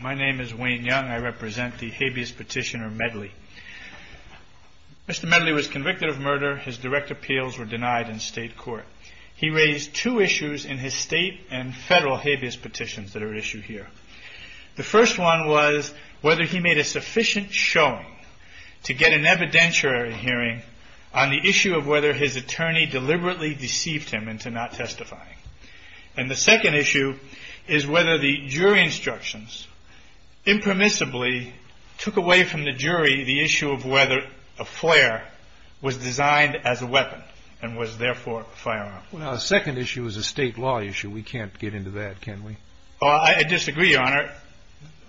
My name is Wayne Young. I represent the habeas petitioner Medley. Mr. Medley was convicted of murder. His direct appeals were denied in state court. He raised two issues in his federal habeas petitions that are at issue here. The first one was whether he made a sufficient showing to get an evidentiary hearing on the issue of whether his attorney deliberately deceived him into not testifying. And the second issue is whether the jury instructions impermissibly took away from the jury the issue of whether a flare was designed as a weapon and was therefore a firearm. The second issue is a state law issue. We can't get into that, can we? I disagree, Your Honor.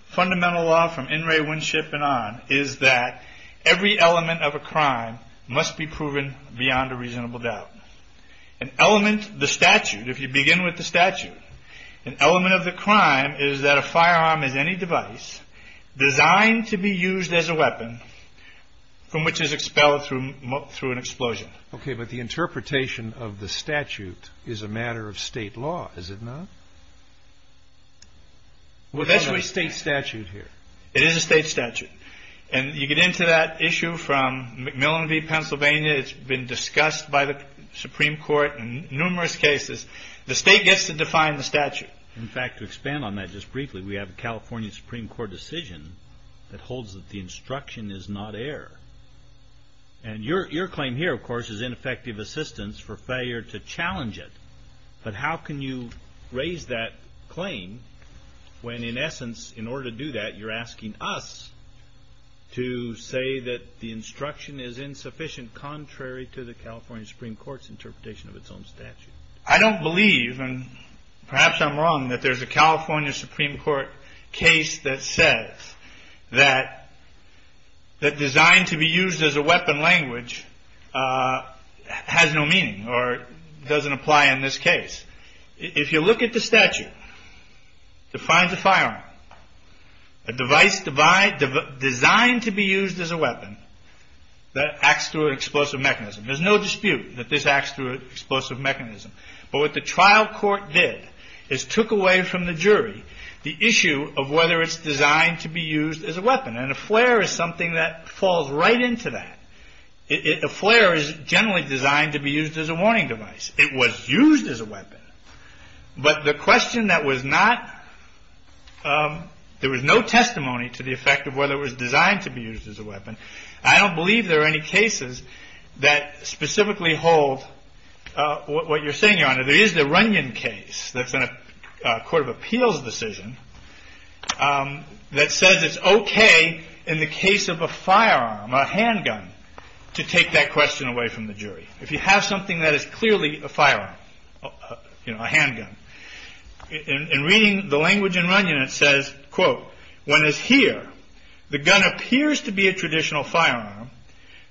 Fundamental law from in re windshift and on is that every element of a crime must be proven beyond a reasonable doubt. An element of the statute, if you begin with the statute, an element of the crime is that a firearm is any device designed to be used as a weapon from which is expelled through an explosion. OK, but the interpretation of the statute is a matter of state law, is it not? Well, that's a state statute here. It is a state statute. And you get into that issue from McMillan v. Pennsylvania. It's been discussed by the Supreme Court in numerous cases. The state gets to define the statute. In fact, to expand on that just briefly, we have a California Supreme Court decision that encourages ineffective assistance for failure to challenge it. But how can you raise that claim when in essence, in order to do that, you're asking us to say that the instruction is insufficient, contrary to the California Supreme Court's interpretation of its own statute? I don't believe, and perhaps I'm wrong, that there's a California Supreme Court case that says that designed to be used as a weapon language has no meaning or doesn't apply in this case. If you look at the statute, it defines a firearm, a device designed to be used as a weapon that acts through an explosive mechanism. There's no dispute that this acts through an explosive mechanism. But what the trial court did is took away from the jury the issue of whether it's designed to be used as a weapon. And a flare is something that falls right into that. A flare is generally designed to be used as a warning device. It was used as a weapon. But the question that was not, there was no testimony to the effect of whether it was designed to be used as a weapon. I don't believe there are any cases that specifically hold what you're saying, Your Honor. There is the Runyon case that's in a court of appeals decision that says it's okay in the case of a firearm, a handgun, to take that question away from the jury. If you have something that is clearly a firearm, a handgun, in reading the language in Runyon, it says, quote, when it's here, the gun appears to be a traditional firearm.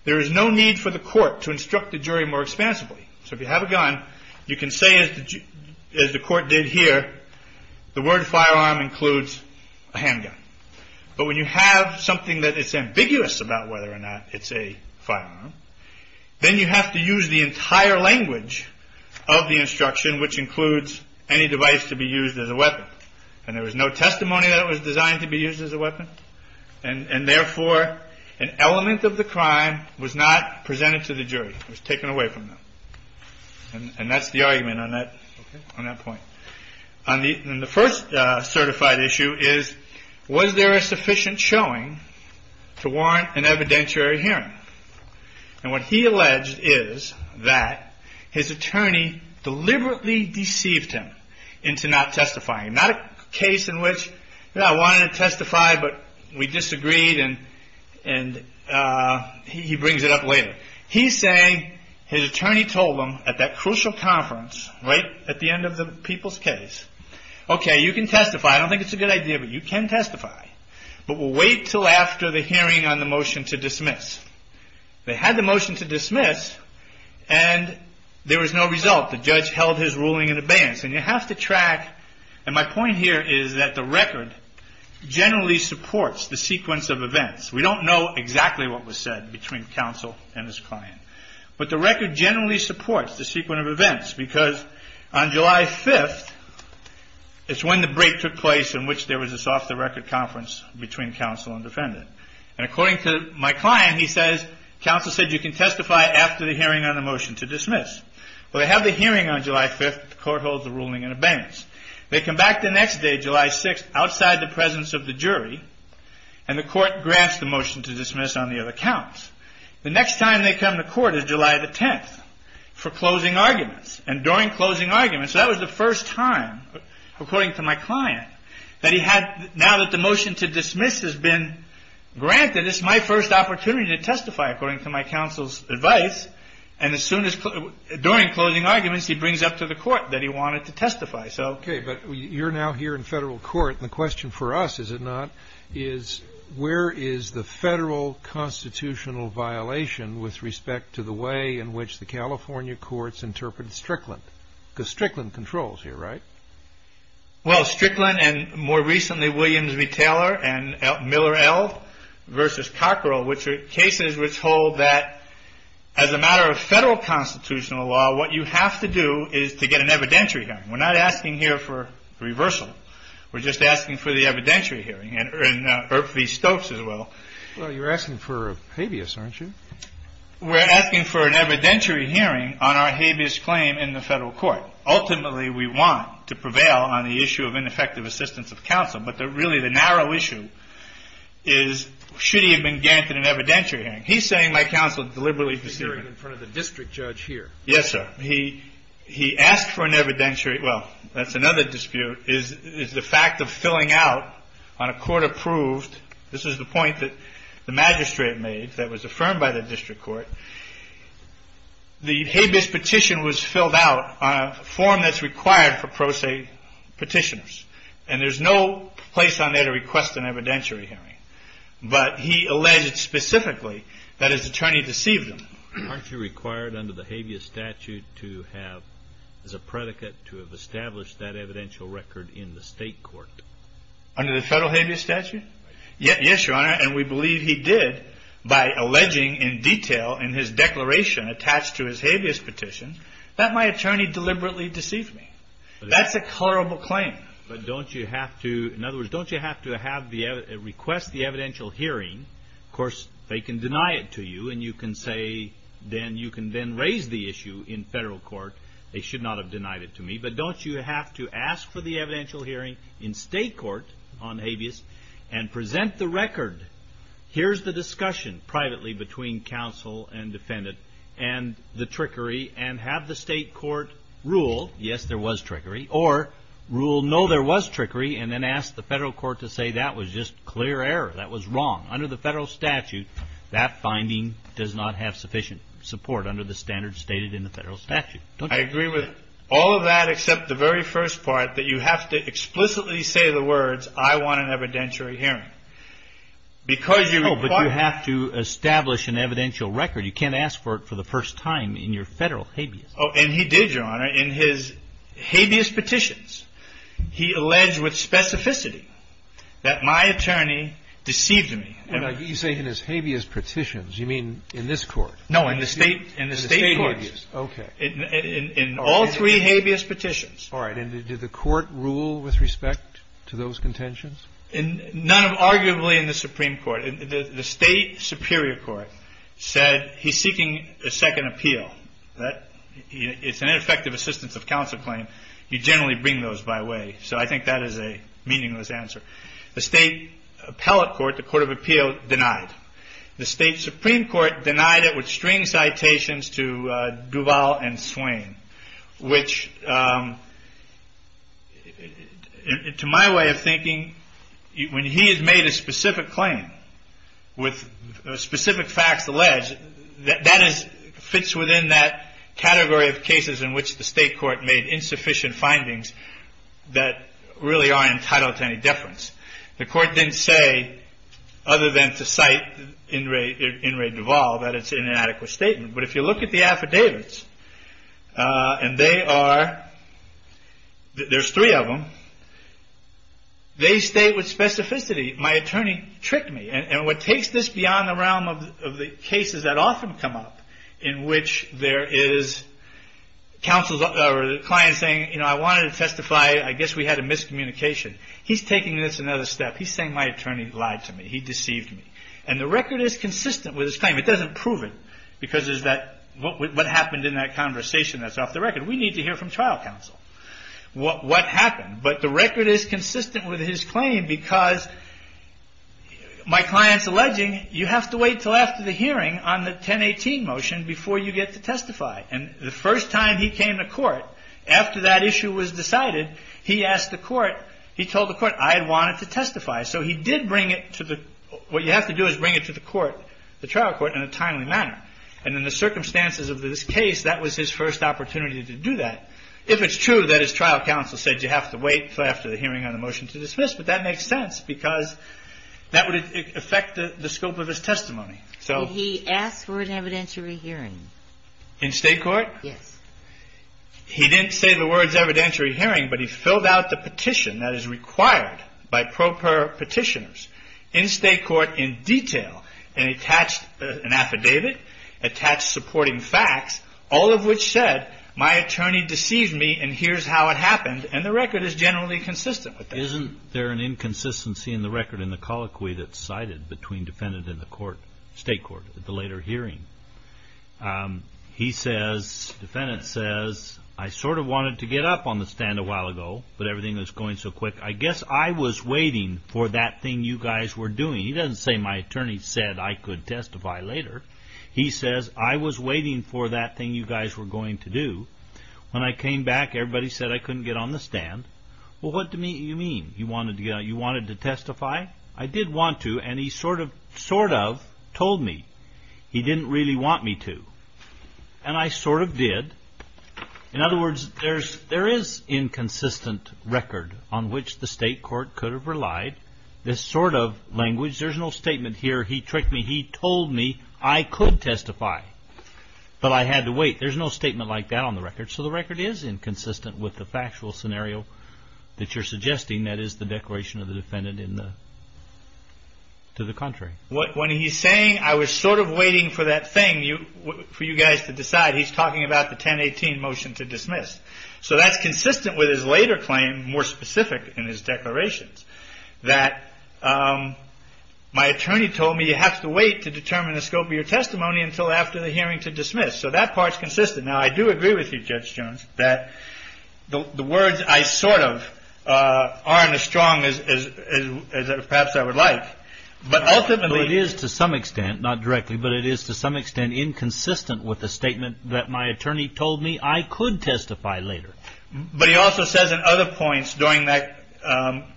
There is no need for the court to instruct the jury more expansively. So if you have a gun, you can say, as the court did here, the word firearm includes a handgun. But when you have something that is ambiguous about whether or not it's a firearm, then you have to use the entire language of the instruction, which includes any device to be used as a weapon. And there was no testimony that it was designed to be used as a weapon. And therefore, an element of the crime was not presented to the jury. It was taken away from them. And that's the argument on that point. The first certified issue is, was there a sufficient showing to warrant an evidentiary hearing? And what he alleged is that his attorney deliberately deceived him into not testifying. Not a case in which, you know, I wanted to testify, but we disagreed, and he brings it up later. He's saying, his attorney told him at that crucial conference, right at the end of the people's case, okay, you can testify. I don't think it's a good idea, but you can testify. But we'll wait until after the hearing on the motion to dismiss. They had the motion to dismiss, and there was no result. The judge held his ruling in advance. And you have to my point here is that the record generally supports the sequence of events. We don't know exactly what was said between counsel and his client. But the record generally supports the sequence of events, because on July 5th, is when the break took place in which there was this off-the-record conference between counsel and defendant. And according to my client, he says, counsel said you can testify after the hearing on the motion to dismiss. Well, they have the hearing on July 5th, the court holds the ruling in advance. They come back the next day, July 6th, outside the presence of the jury, and the court grants the motion to dismiss on the other counts. The next time they come to court is July 10th for closing arguments. And during closing arguments, that was the first time, according to my client, that he had, now that the motion to dismiss has been granted, it's my first opportunity to testify according to my counsel's advice. And as soon as, during closing arguments, he brings up to the court that he wanted to testify. Okay, but you're now here in federal court, and the question for us, is it not, is where is the federal constitutional violation with respect to the way in which the California courts interpret Strickland? Because Strickland controls here, right? Well, Strickland and more recently Williams v. Taylor and Miller v. Elv versus Cockrell, which are cases which hold that as a matter of federal constitutional law, what you have to do is to get an evidentiary hearing. We're not asking here for reversal. We're just asking for the evidentiary hearing, and Irv v. Stokes as well. Well, you're asking for a habeas, aren't you? We're asking for an evidentiary hearing on our habeas claim in the federal court. Ultimately, we want to prevail on the issue of ineffective assistance of counsel. But really, the narrow issue is, should he have been granted an evidentiary hearing? He's saying, my counsel, deliberately discerning. Discerning in front of the district judge here. Yes, sir. He asked for an evidentiary. Well, that's another dispute, is the fact of filling out on a court-approved, this is the point that the magistrate made that was affirmed by the district court, the habeas petition was filled out on a form that's required for pro se petitioners. And there's no place on there to request an evidentiary hearing. But he alleged specifically that his attorney deceived him. Aren't you required under the habeas statute to have, as a predicate, to have established that evidential record in the state court? Under the federal habeas statute? Yes, your honor. And we believe he did by alleging in detail in his declaration attached to his habeas petition that my attorney deliberately deceived me. That's a colorable claim. But don't you have to, in other words, don't you have to request the evidential hearing? Of course, they can deny it to you and you can say, then you can then raise the issue in federal court. They should not have denied it to me. But don't you have to ask for the evidential hearing in state court on habeas and present the record? Here's the discussion privately between counsel and defendant and the trickery and have the state court rule, yes, there was trickery, or rule, no, there was trickery, and then ask the federal court to say that was just clear error, that was wrong. Under the federal statute, that finding does not have sufficient support under the standards stated in the federal statute. I agree with all of that except the very first part, that you have to explicitly say the words, I want an evidentiary hearing. Because you require... No, but you have to establish an evidential record. You can't ask for it for the first time in your federal habeas. And he did, Your Honor, in his habeas petitions, he alleged with specificity that my attorney deceived me. You say in his habeas petitions, you mean in this court? No, in the state courts. In the state courts, okay. In all three habeas petitions. All right, and did the court rule with respect to those contentions? None, arguably, in the Supreme Court. The state superior court said he's seeking a second appeal. It's an ineffective assistance of counsel claim. You generally bring those by way. So I think that is a meaningless answer. The state appellate court, the court of appeal, denied. The state Supreme Court denied it with string citations to Duval and Swain, which to my way of thinking, when he has made a specific claim with specific facts alleged, that fits within that category of cases in which the state court made insufficient findings that really are entitled to any deference. The court didn't say, other than to cite In re Duval, that it's an inadequate statement. But if you look at the affidavits, and there's three of them, they state with specificity, my attorney tricked me. And what takes this beyond the realm of the cases that often come up, in which there is counsel or the client saying, you know, I wanted to testify. I guess we had a miscommunication. He's taking this another step. He's saying my attorney lied to me. He deceived me. And the record is consistent with his claim. It doesn't prove it, because what happened in that conversation, that's off the record. We need to hear from trial counsel what happened. But the record is consistent with his claim, because my client's alleging, you have to wait till after the hearing on the 1018 motion before you get to testify. And the first time he came to court, after that issue was decided, he asked the court, he told the court, I had wanted to testify. So he did bring it to the, what you have to do is bring it to the court, the trial court, in a timely manner. And in the circumstances of this case, that was his first opportunity to do that. If it's true that his trial counsel said you have to wait till after the hearing on the motion to dismiss, but that makes sense, because that would affect the scope of his testimony. So he asked for an evidentiary hearing in state court. Yes. He didn't say the words evidentiary hearing, but he filled out the petition that is required by proper petitioners in state court in detail and attached an affidavit, attached supporting facts, all of which said, my attorney deceived me and here's how it happened. And the record is generally consistent with that. Isn't there an inconsistency in the record in the colloquy that's cited between defendant and the court, state court, at the later hearing? He says, defendant says, I sort of wanted to get up on the stand a while ago, but everything was going so quick. I guess I was waiting for that thing you guys were doing. He doesn't say my attorney said I could testify later. He says, I was waiting for that thing you guys were going to do. When I came back, everybody said I couldn't get on the stand. Well, what do you mean? You wanted to testify? I did want to, and he sort of told me. He didn't really want me to, and I sort of did. In other words, there is inconsistent record on which the state court could have relied. This sort of language, there's no statement here, he tricked me. He told me I could testify, but I had to wait. There's no statement like that on the record. So the record is inconsistent with the factual scenario that you're suggesting, that is the declaration of the defendant to the contrary. When he's saying I was sort of waiting for that thing for you guys to decide, he's talking about the 1018 motion to dismiss. So that's consistent with his later claim, more specific in his declarations, that my attorney told me you have to wait to determine the scope of your testimony until after the hearing to dismiss. So that part's consistent. Now, I do agree with you, Judge Jones, that the words I sort of aren't as strong as perhaps I would like, but ultimately it is to some extent, not directly, but it is to some extent inconsistent with the statement that my attorney told me I could testify later. But he also says in other points during that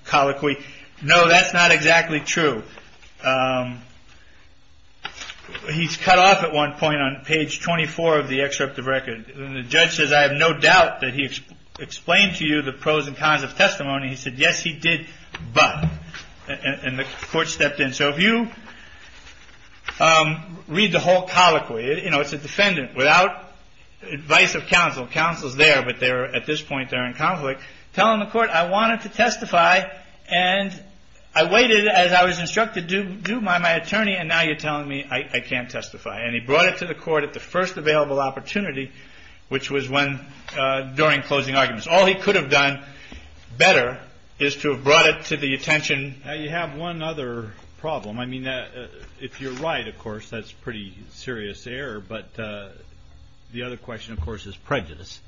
colloquy, no, that's not exactly true. He's cut off at one point on page 24 of the excerpt of record. The judge says, I have no doubt that he explained to you the pros and cons of testimony. He said, yes, he did, but, and the court stepped in. So if you read the whole colloquy, it's a defendant without advice of counsel. Counsel's there, but they're, at this point, they're in conflict. Telling the court, I wanted to testify, and I waited as I was instructed to do by my attorney, and now you're telling me I can't testify. And he brought it to the court at the first available opportunity, which was when, during closing arguments. All he could have done better is to have brought it to the attention. Now, you have one other problem. I mean, if you're right, of course, that's pretty serious error. But the other question, of course, is prejudice.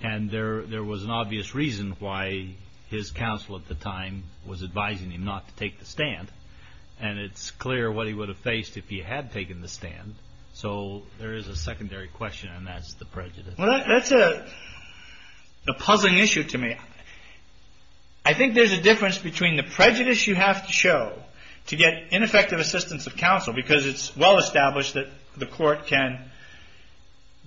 And there was an obvious reason why his counsel at the time was advising him not to take the stand. And it's clear what he would have faced if he had taken the stand. So there is a secondary question, and that's the prejudice. Well, that's a puzzling issue to me. I think there's a difference between the prejudice you have to show to get ineffective assistance of counsel, because it's well-established that the court can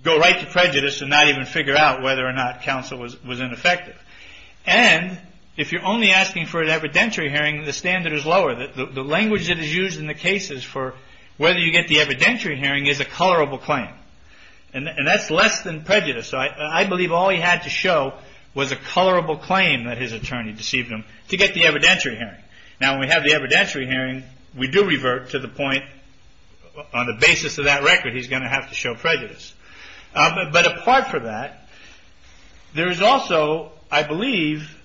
go right to prejudice and not even figure out whether or not counsel was ineffective. And if you're only asking for an evidentiary hearing, the standard is lower. The language that is used in the cases for whether you get the evidentiary hearing is a colorable claim. And that's less than prejudice. So I believe all he had to show was a colorable claim that his attorney deceived him to get the evidentiary hearing. Now, when we have the evidentiary hearing, we do revert to the point, on the basis of that record, he's going to have to show prejudice. But apart from that, there is also, I believe,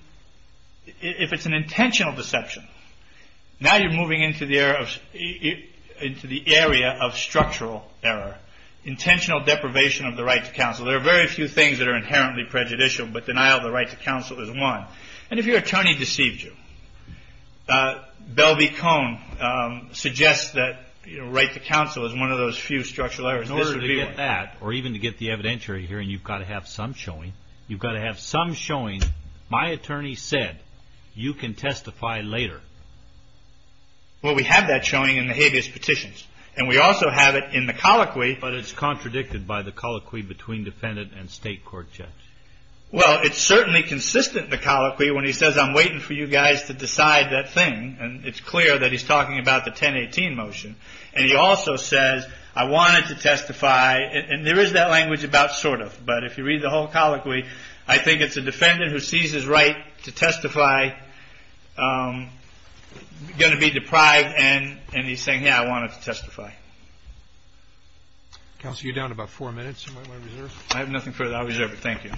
if it's an intentional deception. Now you're moving into the area of structural error, intentional deprivation of the right to counsel. There are very few things that are inherently prejudicial, but denial of the right to counsel is one. And if your attorney deceived you, Bell v. Cone suggests that right to counsel is one of those few structural errors. In order to get that, or even to get the evidentiary hearing, you've got to have some showing. You've got to have some showing. My attorney said, you can testify later. Well, we have that showing in the habeas petitions. And we also have it in the colloquy. But it's contradicted by the colloquy between defendant and state court judge. Well, it's certainly consistent in the colloquy when he says, I'm waiting for you guys to decide that thing. And it's clear that he's talking about the 1018 motion. And he also says, I wanted to testify. And there is that language about sort of. But if you read the whole colloquy, I think it's a defendant who sees his right to testify going to be deprived. And he's saying, yeah, I wanted to testify. Counsel, you're down about four minutes. Am I reserved? I have nothing further. I'll reserve it. Thank you.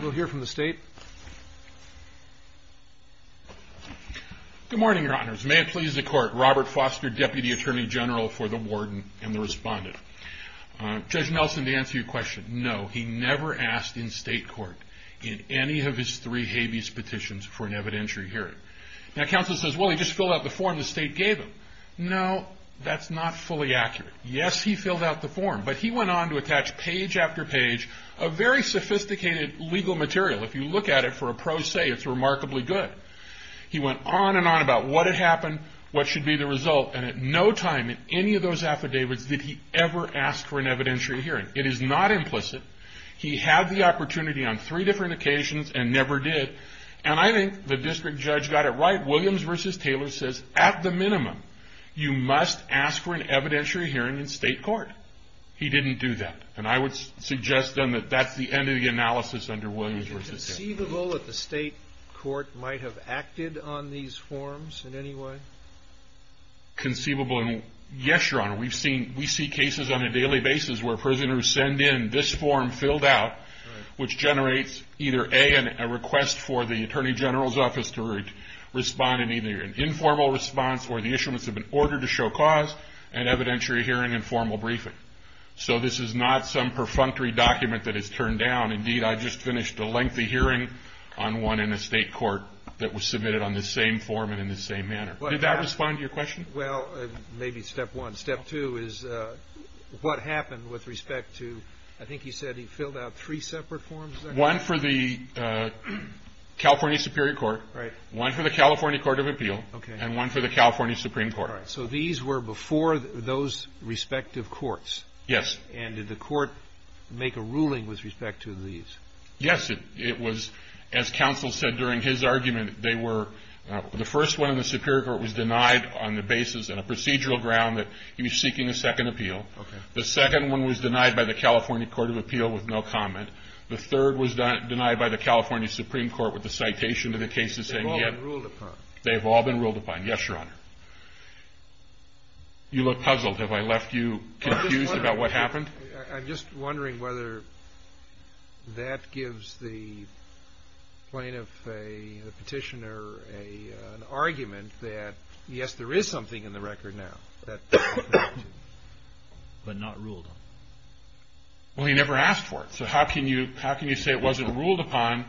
We'll hear from the state. Good morning, your honors. May it please the court, Robert Foster, deputy attorney general for the warden and the respondent. Judge Nelson, to answer your question, no, he never asked in state court in any of his three habeas petitions for an evidentiary hearing. Now, counsel says, well, he just filled out the form the state gave him. No, that's not fully accurate. Yes, he filled out the form. But he went on to attach page after page of very sophisticated legal material. If you look at it for a pro se, it's remarkably good. He went on and on about what had happened, what should be the result. And at no time in any of those affidavits did he ever ask for an evidentiary hearing. It is not implicit. He had the opportunity on three different occasions and never did. And I think the district judge got it right. Williams v. Taylor says, at the minimum, you must ask for an evidentiary hearing in state court. He didn't do that. And I would suggest to them that that's the end of the analysis under Williams v. Taylor. Is it conceivable that the state court might have acted on these forms in any way? Conceivable, yes, your honor. We see cases on a daily basis where prisoners send in this form filled out, which generates either A, a request for the attorney general's office to respond in either an informal response where the issuance of an order to show cause and evidentiary hearing and formal briefing. So this is not some perfunctory document that is turned down. Indeed, I just finished a lengthy hearing on one in a state court that was submitted on the same form and in the same manner. Did that respond to your question? Well, maybe step one. Step two is what happened with respect to, I think you said he filled out three separate forms? One for the California Superior Court. Right. One for the California Court of Appeal. Okay. And one for the California Supreme Court. All right. So these were before those respective courts? Yes. And did the court make a ruling with respect to these? Yes, it was. As counsel said during his argument, they were, the first one in the Superior Court was denied on the basis in a procedural ground that he was seeking a second appeal. Okay. The second one was denied by the California Court of Appeal with no comment. The third was denied by the California Supreme Court with a citation to the cases saying he had. They've all been ruled upon. They've all been ruled upon. Yes, Your Honor. You look puzzled. Have I left you confused about what happened? I'm just wondering whether that gives the plaintiff, the petitioner, an argument that yes, there is something in the record now that. But not ruled on. Well, he never asked for it. So how can you, how can you say it wasn't ruled upon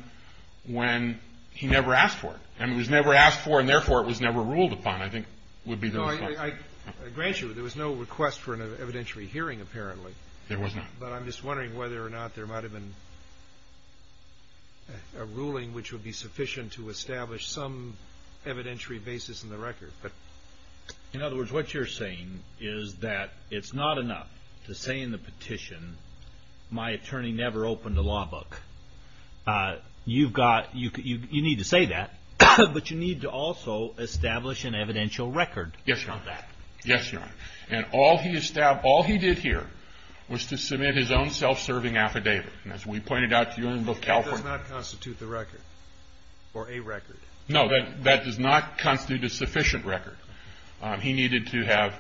when he never asked for it? And it was never asked for and therefore it was never ruled upon, I think would be the response. No, I, I grant you, there was no request for an evidentiary hearing apparently. There was not. But I'm just wondering whether or not there might have been a ruling which would be sufficient to establish some evidentiary basis in the record. In other words, what you're saying is that it's not enough to say in the petition, my attorney never opened a law book. You've got, you need to say that, but you need to also establish an evidential record. Yes, Your Honor. Yes, Your Honor. And all he, all he did here was to submit his own self-serving affidavit. And as we pointed out to you in California. That does not constitute the record or a record. No, that, that does not constitute a sufficient record. He needed to have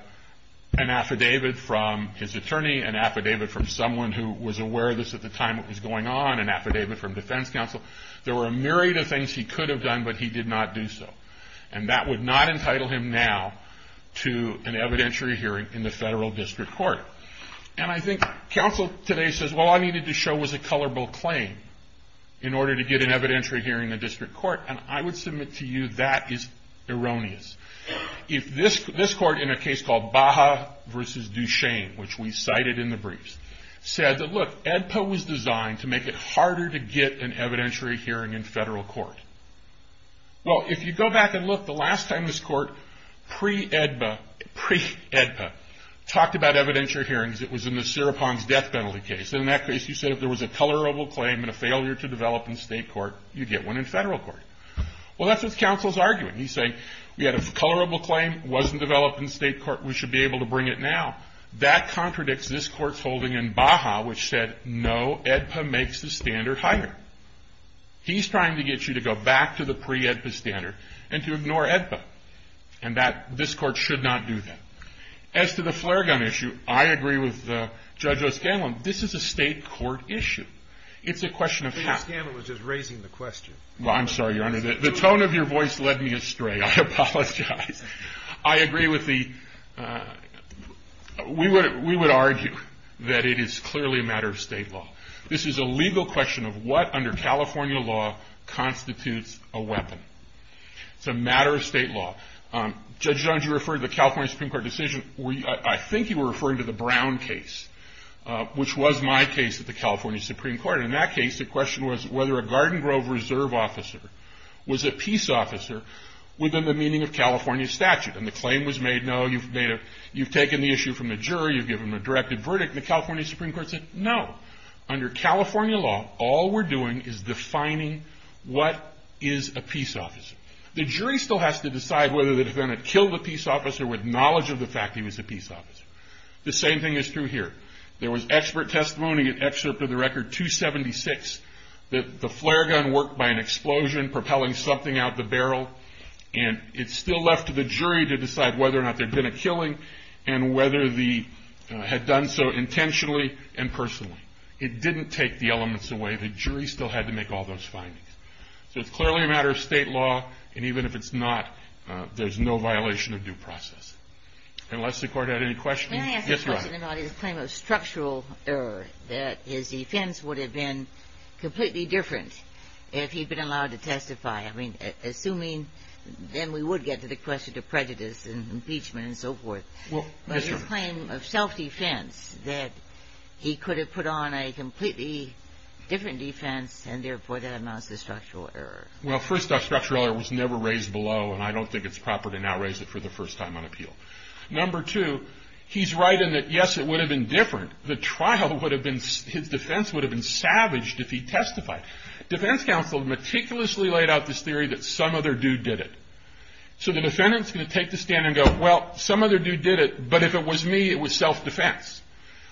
an affidavit from his attorney, an affidavit from someone who was aware of this at the time what was going on, an affidavit from defense counsel. There were a myriad of things he could have done, but he did not do so. And that would not entitle him now to an evidentiary hearing in the federal district court. And I think counsel today says, well, all I needed to show was a colorable claim in order to get an evidentiary hearing in the district court. And I would submit to you that is erroneous. If this, this court in a case called Baha versus Duchesne, which we cited in the briefs, said that, look, EDPA was designed to make it harder to get an evidentiary hearing in federal court. Well, if you go back and look, the last time this court pre-EDPA, pre-EDPA, talked about evidentiary hearings, it was in the Seropon's death penalty case. And in that case, you said if there was a colorable claim and a failure to develop in state court, you'd get one in federal court. Well, that's what counsel's arguing. He's saying, we had a colorable claim, it wasn't developed in state court, we should be able to bring it now. That contradicts this court's holding in Baha, which said, no, EDPA makes the standard higher. He's trying to get you to go back to the pre-EDPA standard and to ignore EDPA. And that, this court should not do that. As to the flare gun issue, I agree with Judge O'Scanlan, this is a state court issue. It's a question of how. O'Scanlan was just raising the question. Well, I'm sorry, Your Honor. The tone of your voice led me astray. I apologize. I agree with the, we would argue that it is clearly a matter of state law. This is a legal question of what, under California law, constitutes a weapon. It's a matter of state law. Judge Jones, you referred to the California Supreme Court decision, I think you were referring to the Brown case, which was my case at the California Supreme Court. And in that case, the question was whether a Garden Grove Reserve officer was a peace officer within the meaning of California statute. And the claim was made, no, you've made a, you've taken the issue from the jury, you've given them a directed verdict. And the California Supreme Court said, no, under California law, all we're doing is defining what is a peace officer. The jury still has to decide whether the defendant killed a peace officer with knowledge of the fact he was a peace officer. The same thing is true here. There was expert testimony, an excerpt of the record 276, that the flare gun worked by an explosion, propelling something out the barrel. And it's still left to the jury to decide whether or not there'd been a killing, and whether the, had done so intentionally and personally. It didn't take the elements away. The jury still had to make all those findings. So it's clearly a matter of state law, and even if it's not, there's no violation of due process. Unless the court had any questions. Can I ask a question about his claim of structural error, that his defense would have been completely different if he'd been allowed to testify? I mean, assuming, then we would get to the question of prejudice and impeachment and so forth. Well, yes, Your Honor. But his claim of self-defense, that he could have put on a completely different defense, and therefore that amounts to structural error. Well, first off, structural error was never raised below, and I don't think it's proper to now raise it for the first time on appeal. Number two, he's right in that, yes, it would have been different. The trial would have been, his defense would have been savaged if he testified. Defense counsel meticulously laid out this theory that some other dude did it. So the defendant's going to take the stand and go, well, some other dude did it, but if it was me, it was self-defense.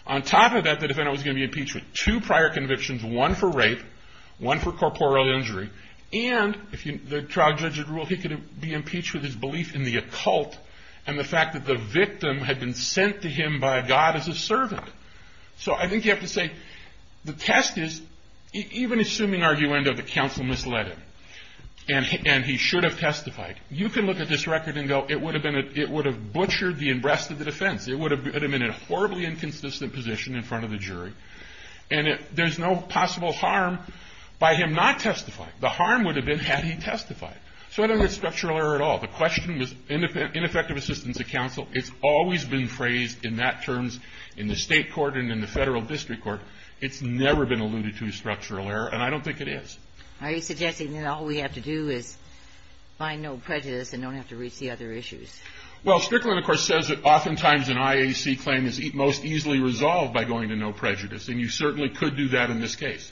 On top of that, the defendant was going to be impeached with two prior convictions, one for rape, one for corporeal injury. And, if the trial judge had ruled, he could be impeached with his belief in the occult and the fact that the victim had been sent to him by God as a servant. So I think you have to say, the test is, even assuming arguendo, the counsel misled him, and he should have testified. You can look at this record and go, it would have butchered the breast of the defense. It would have put him in a horribly inconsistent position in front of the jury. And there's no possible harm by him not testifying. The harm would have been had he testified. So I don't think it's structural error at all. The question was ineffective assistance of counsel. It's always been phrased in that terms in the state court and in the federal district court. It's never been alluded to as structural error, and I don't think it is. Are you suggesting that all we have to do is find no prejudice and don't have to reach the other issues? Well, Strickland, of course, says that oftentimes an IAC claim is most easily resolved by going to no prejudice, and you certainly could do that in this case.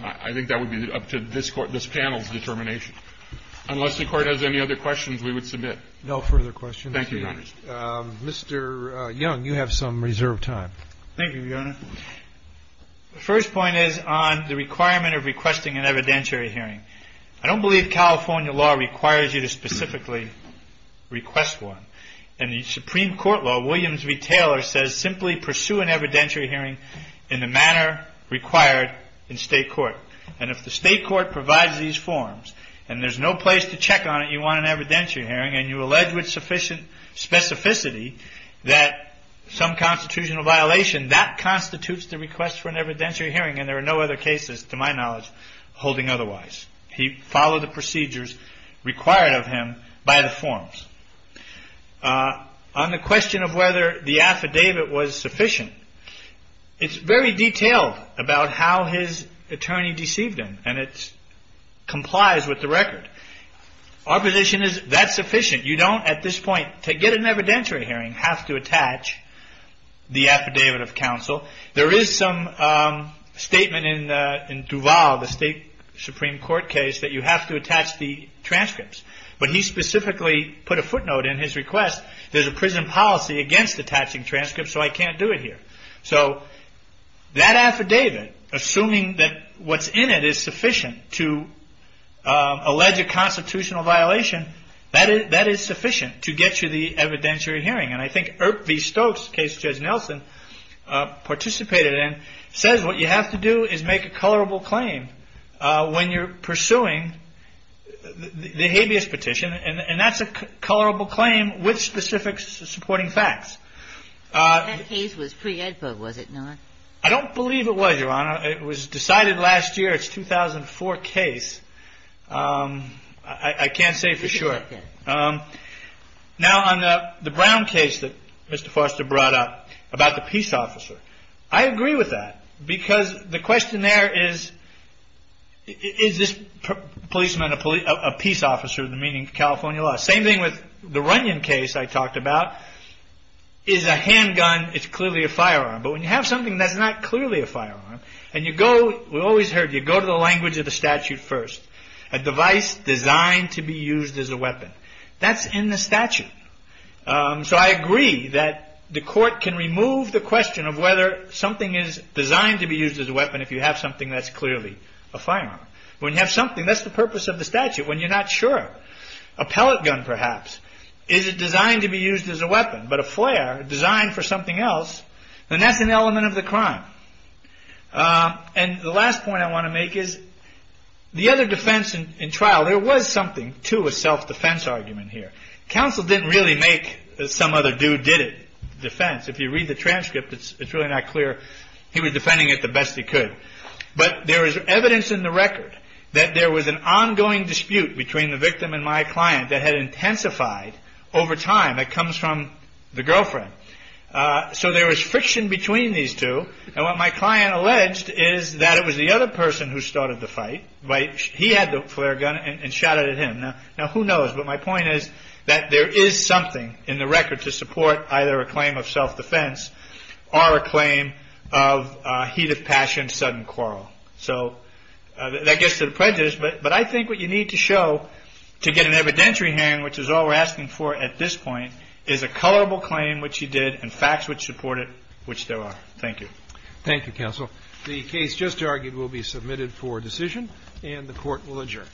I think that would be up to this panel's determination. Unless the Court has any other questions, we would submit. No further questions. Thank you, Your Honor. Mr. Young, you have some reserved time. Thank you, Your Honor. The first point is on the requirement of requesting an evidentiary hearing. I don't believe California law requires you to specifically request one. In the Supreme Court law, Williams v. Taylor says simply pursue an evidentiary hearing in the manner required in state court. And if the state court provides these forms and there's no place to check on it, you want an evidentiary hearing, and you allege with sufficient specificity that some constitutional violation, that constitutes the request for an evidentiary hearing. And there are no other cases, to my knowledge, holding otherwise. He followed the procedures required of him by the forms. On the question of whether the affidavit was sufficient, it's very detailed about how his attorney deceived him, and it complies with the record. Our position is that's sufficient. You don't, at this point, to get an evidentiary hearing, have to attach the affidavit of counsel. There is some statement in Duval, the state Supreme Court case, that you have to attach the transcripts. But he specifically put a footnote in his request, there's a prison policy against attaching transcripts, so I can't do it here. So that affidavit, assuming that what's in it is sufficient to allege a constitutional violation, that is sufficient to get you the evidentiary hearing. And I think Irk V. Stokes, case Judge Nelson, participated in, says what you have to do is make a colorable claim when you're pursuing the habeas petition. And that's a colorable claim with specific supporting facts. That case was pre-ed book, was it not? I don't believe it was, Your Honor. It was decided last year. It's a 2004 case. I can't say for sure. Now, on the Brown case that Mr. Foster brought up, about the peace officer, I agree with that. Because the question there is, is this policeman a peace officer, meaning California law? Same thing with the Runyon case I talked about. Is a handgun, it's clearly a firearm. But when you have something that's not clearly a firearm, and you go, we've always heard, you go to the language of the statute first. A device designed to be used as a weapon. That's in the statute. So I agree that the court can remove the question of whether something is designed to be used as a weapon if you have something that's clearly a firearm. When you have something, that's the purpose of the statute. When you're not sure, a pellet gun perhaps, is it designed to be used as a weapon? But a flare designed for something else, then that's an element of the crime. And the last point I want to make is, the other defense in trial, there was something to a self-defense argument here. Counsel didn't really make some other dude did it defense. If you read the transcript, it's really not clear. He was defending it the best he could. But there is evidence in the record that there was an ongoing dispute between the victim and my client that had intensified over time. That comes from the girlfriend. So there is friction between these two. And what my client alleged is that it was the other person who started the fight. Right. He had the flare gun and shot it at him. Now, who knows? But my point is that there is something in the record to support either a claim of self-defense or a claim of heat of passion, sudden quarrel. So that gets to the prejudice. But I think what you need to show to get an evidentiary hand, which is all we're asking for at this point, is a colorable claim, which he did, and facts which support it, which there are. Thank you. Thank you, counsel. The case just argued will be submitted for decision and the court will adjourn.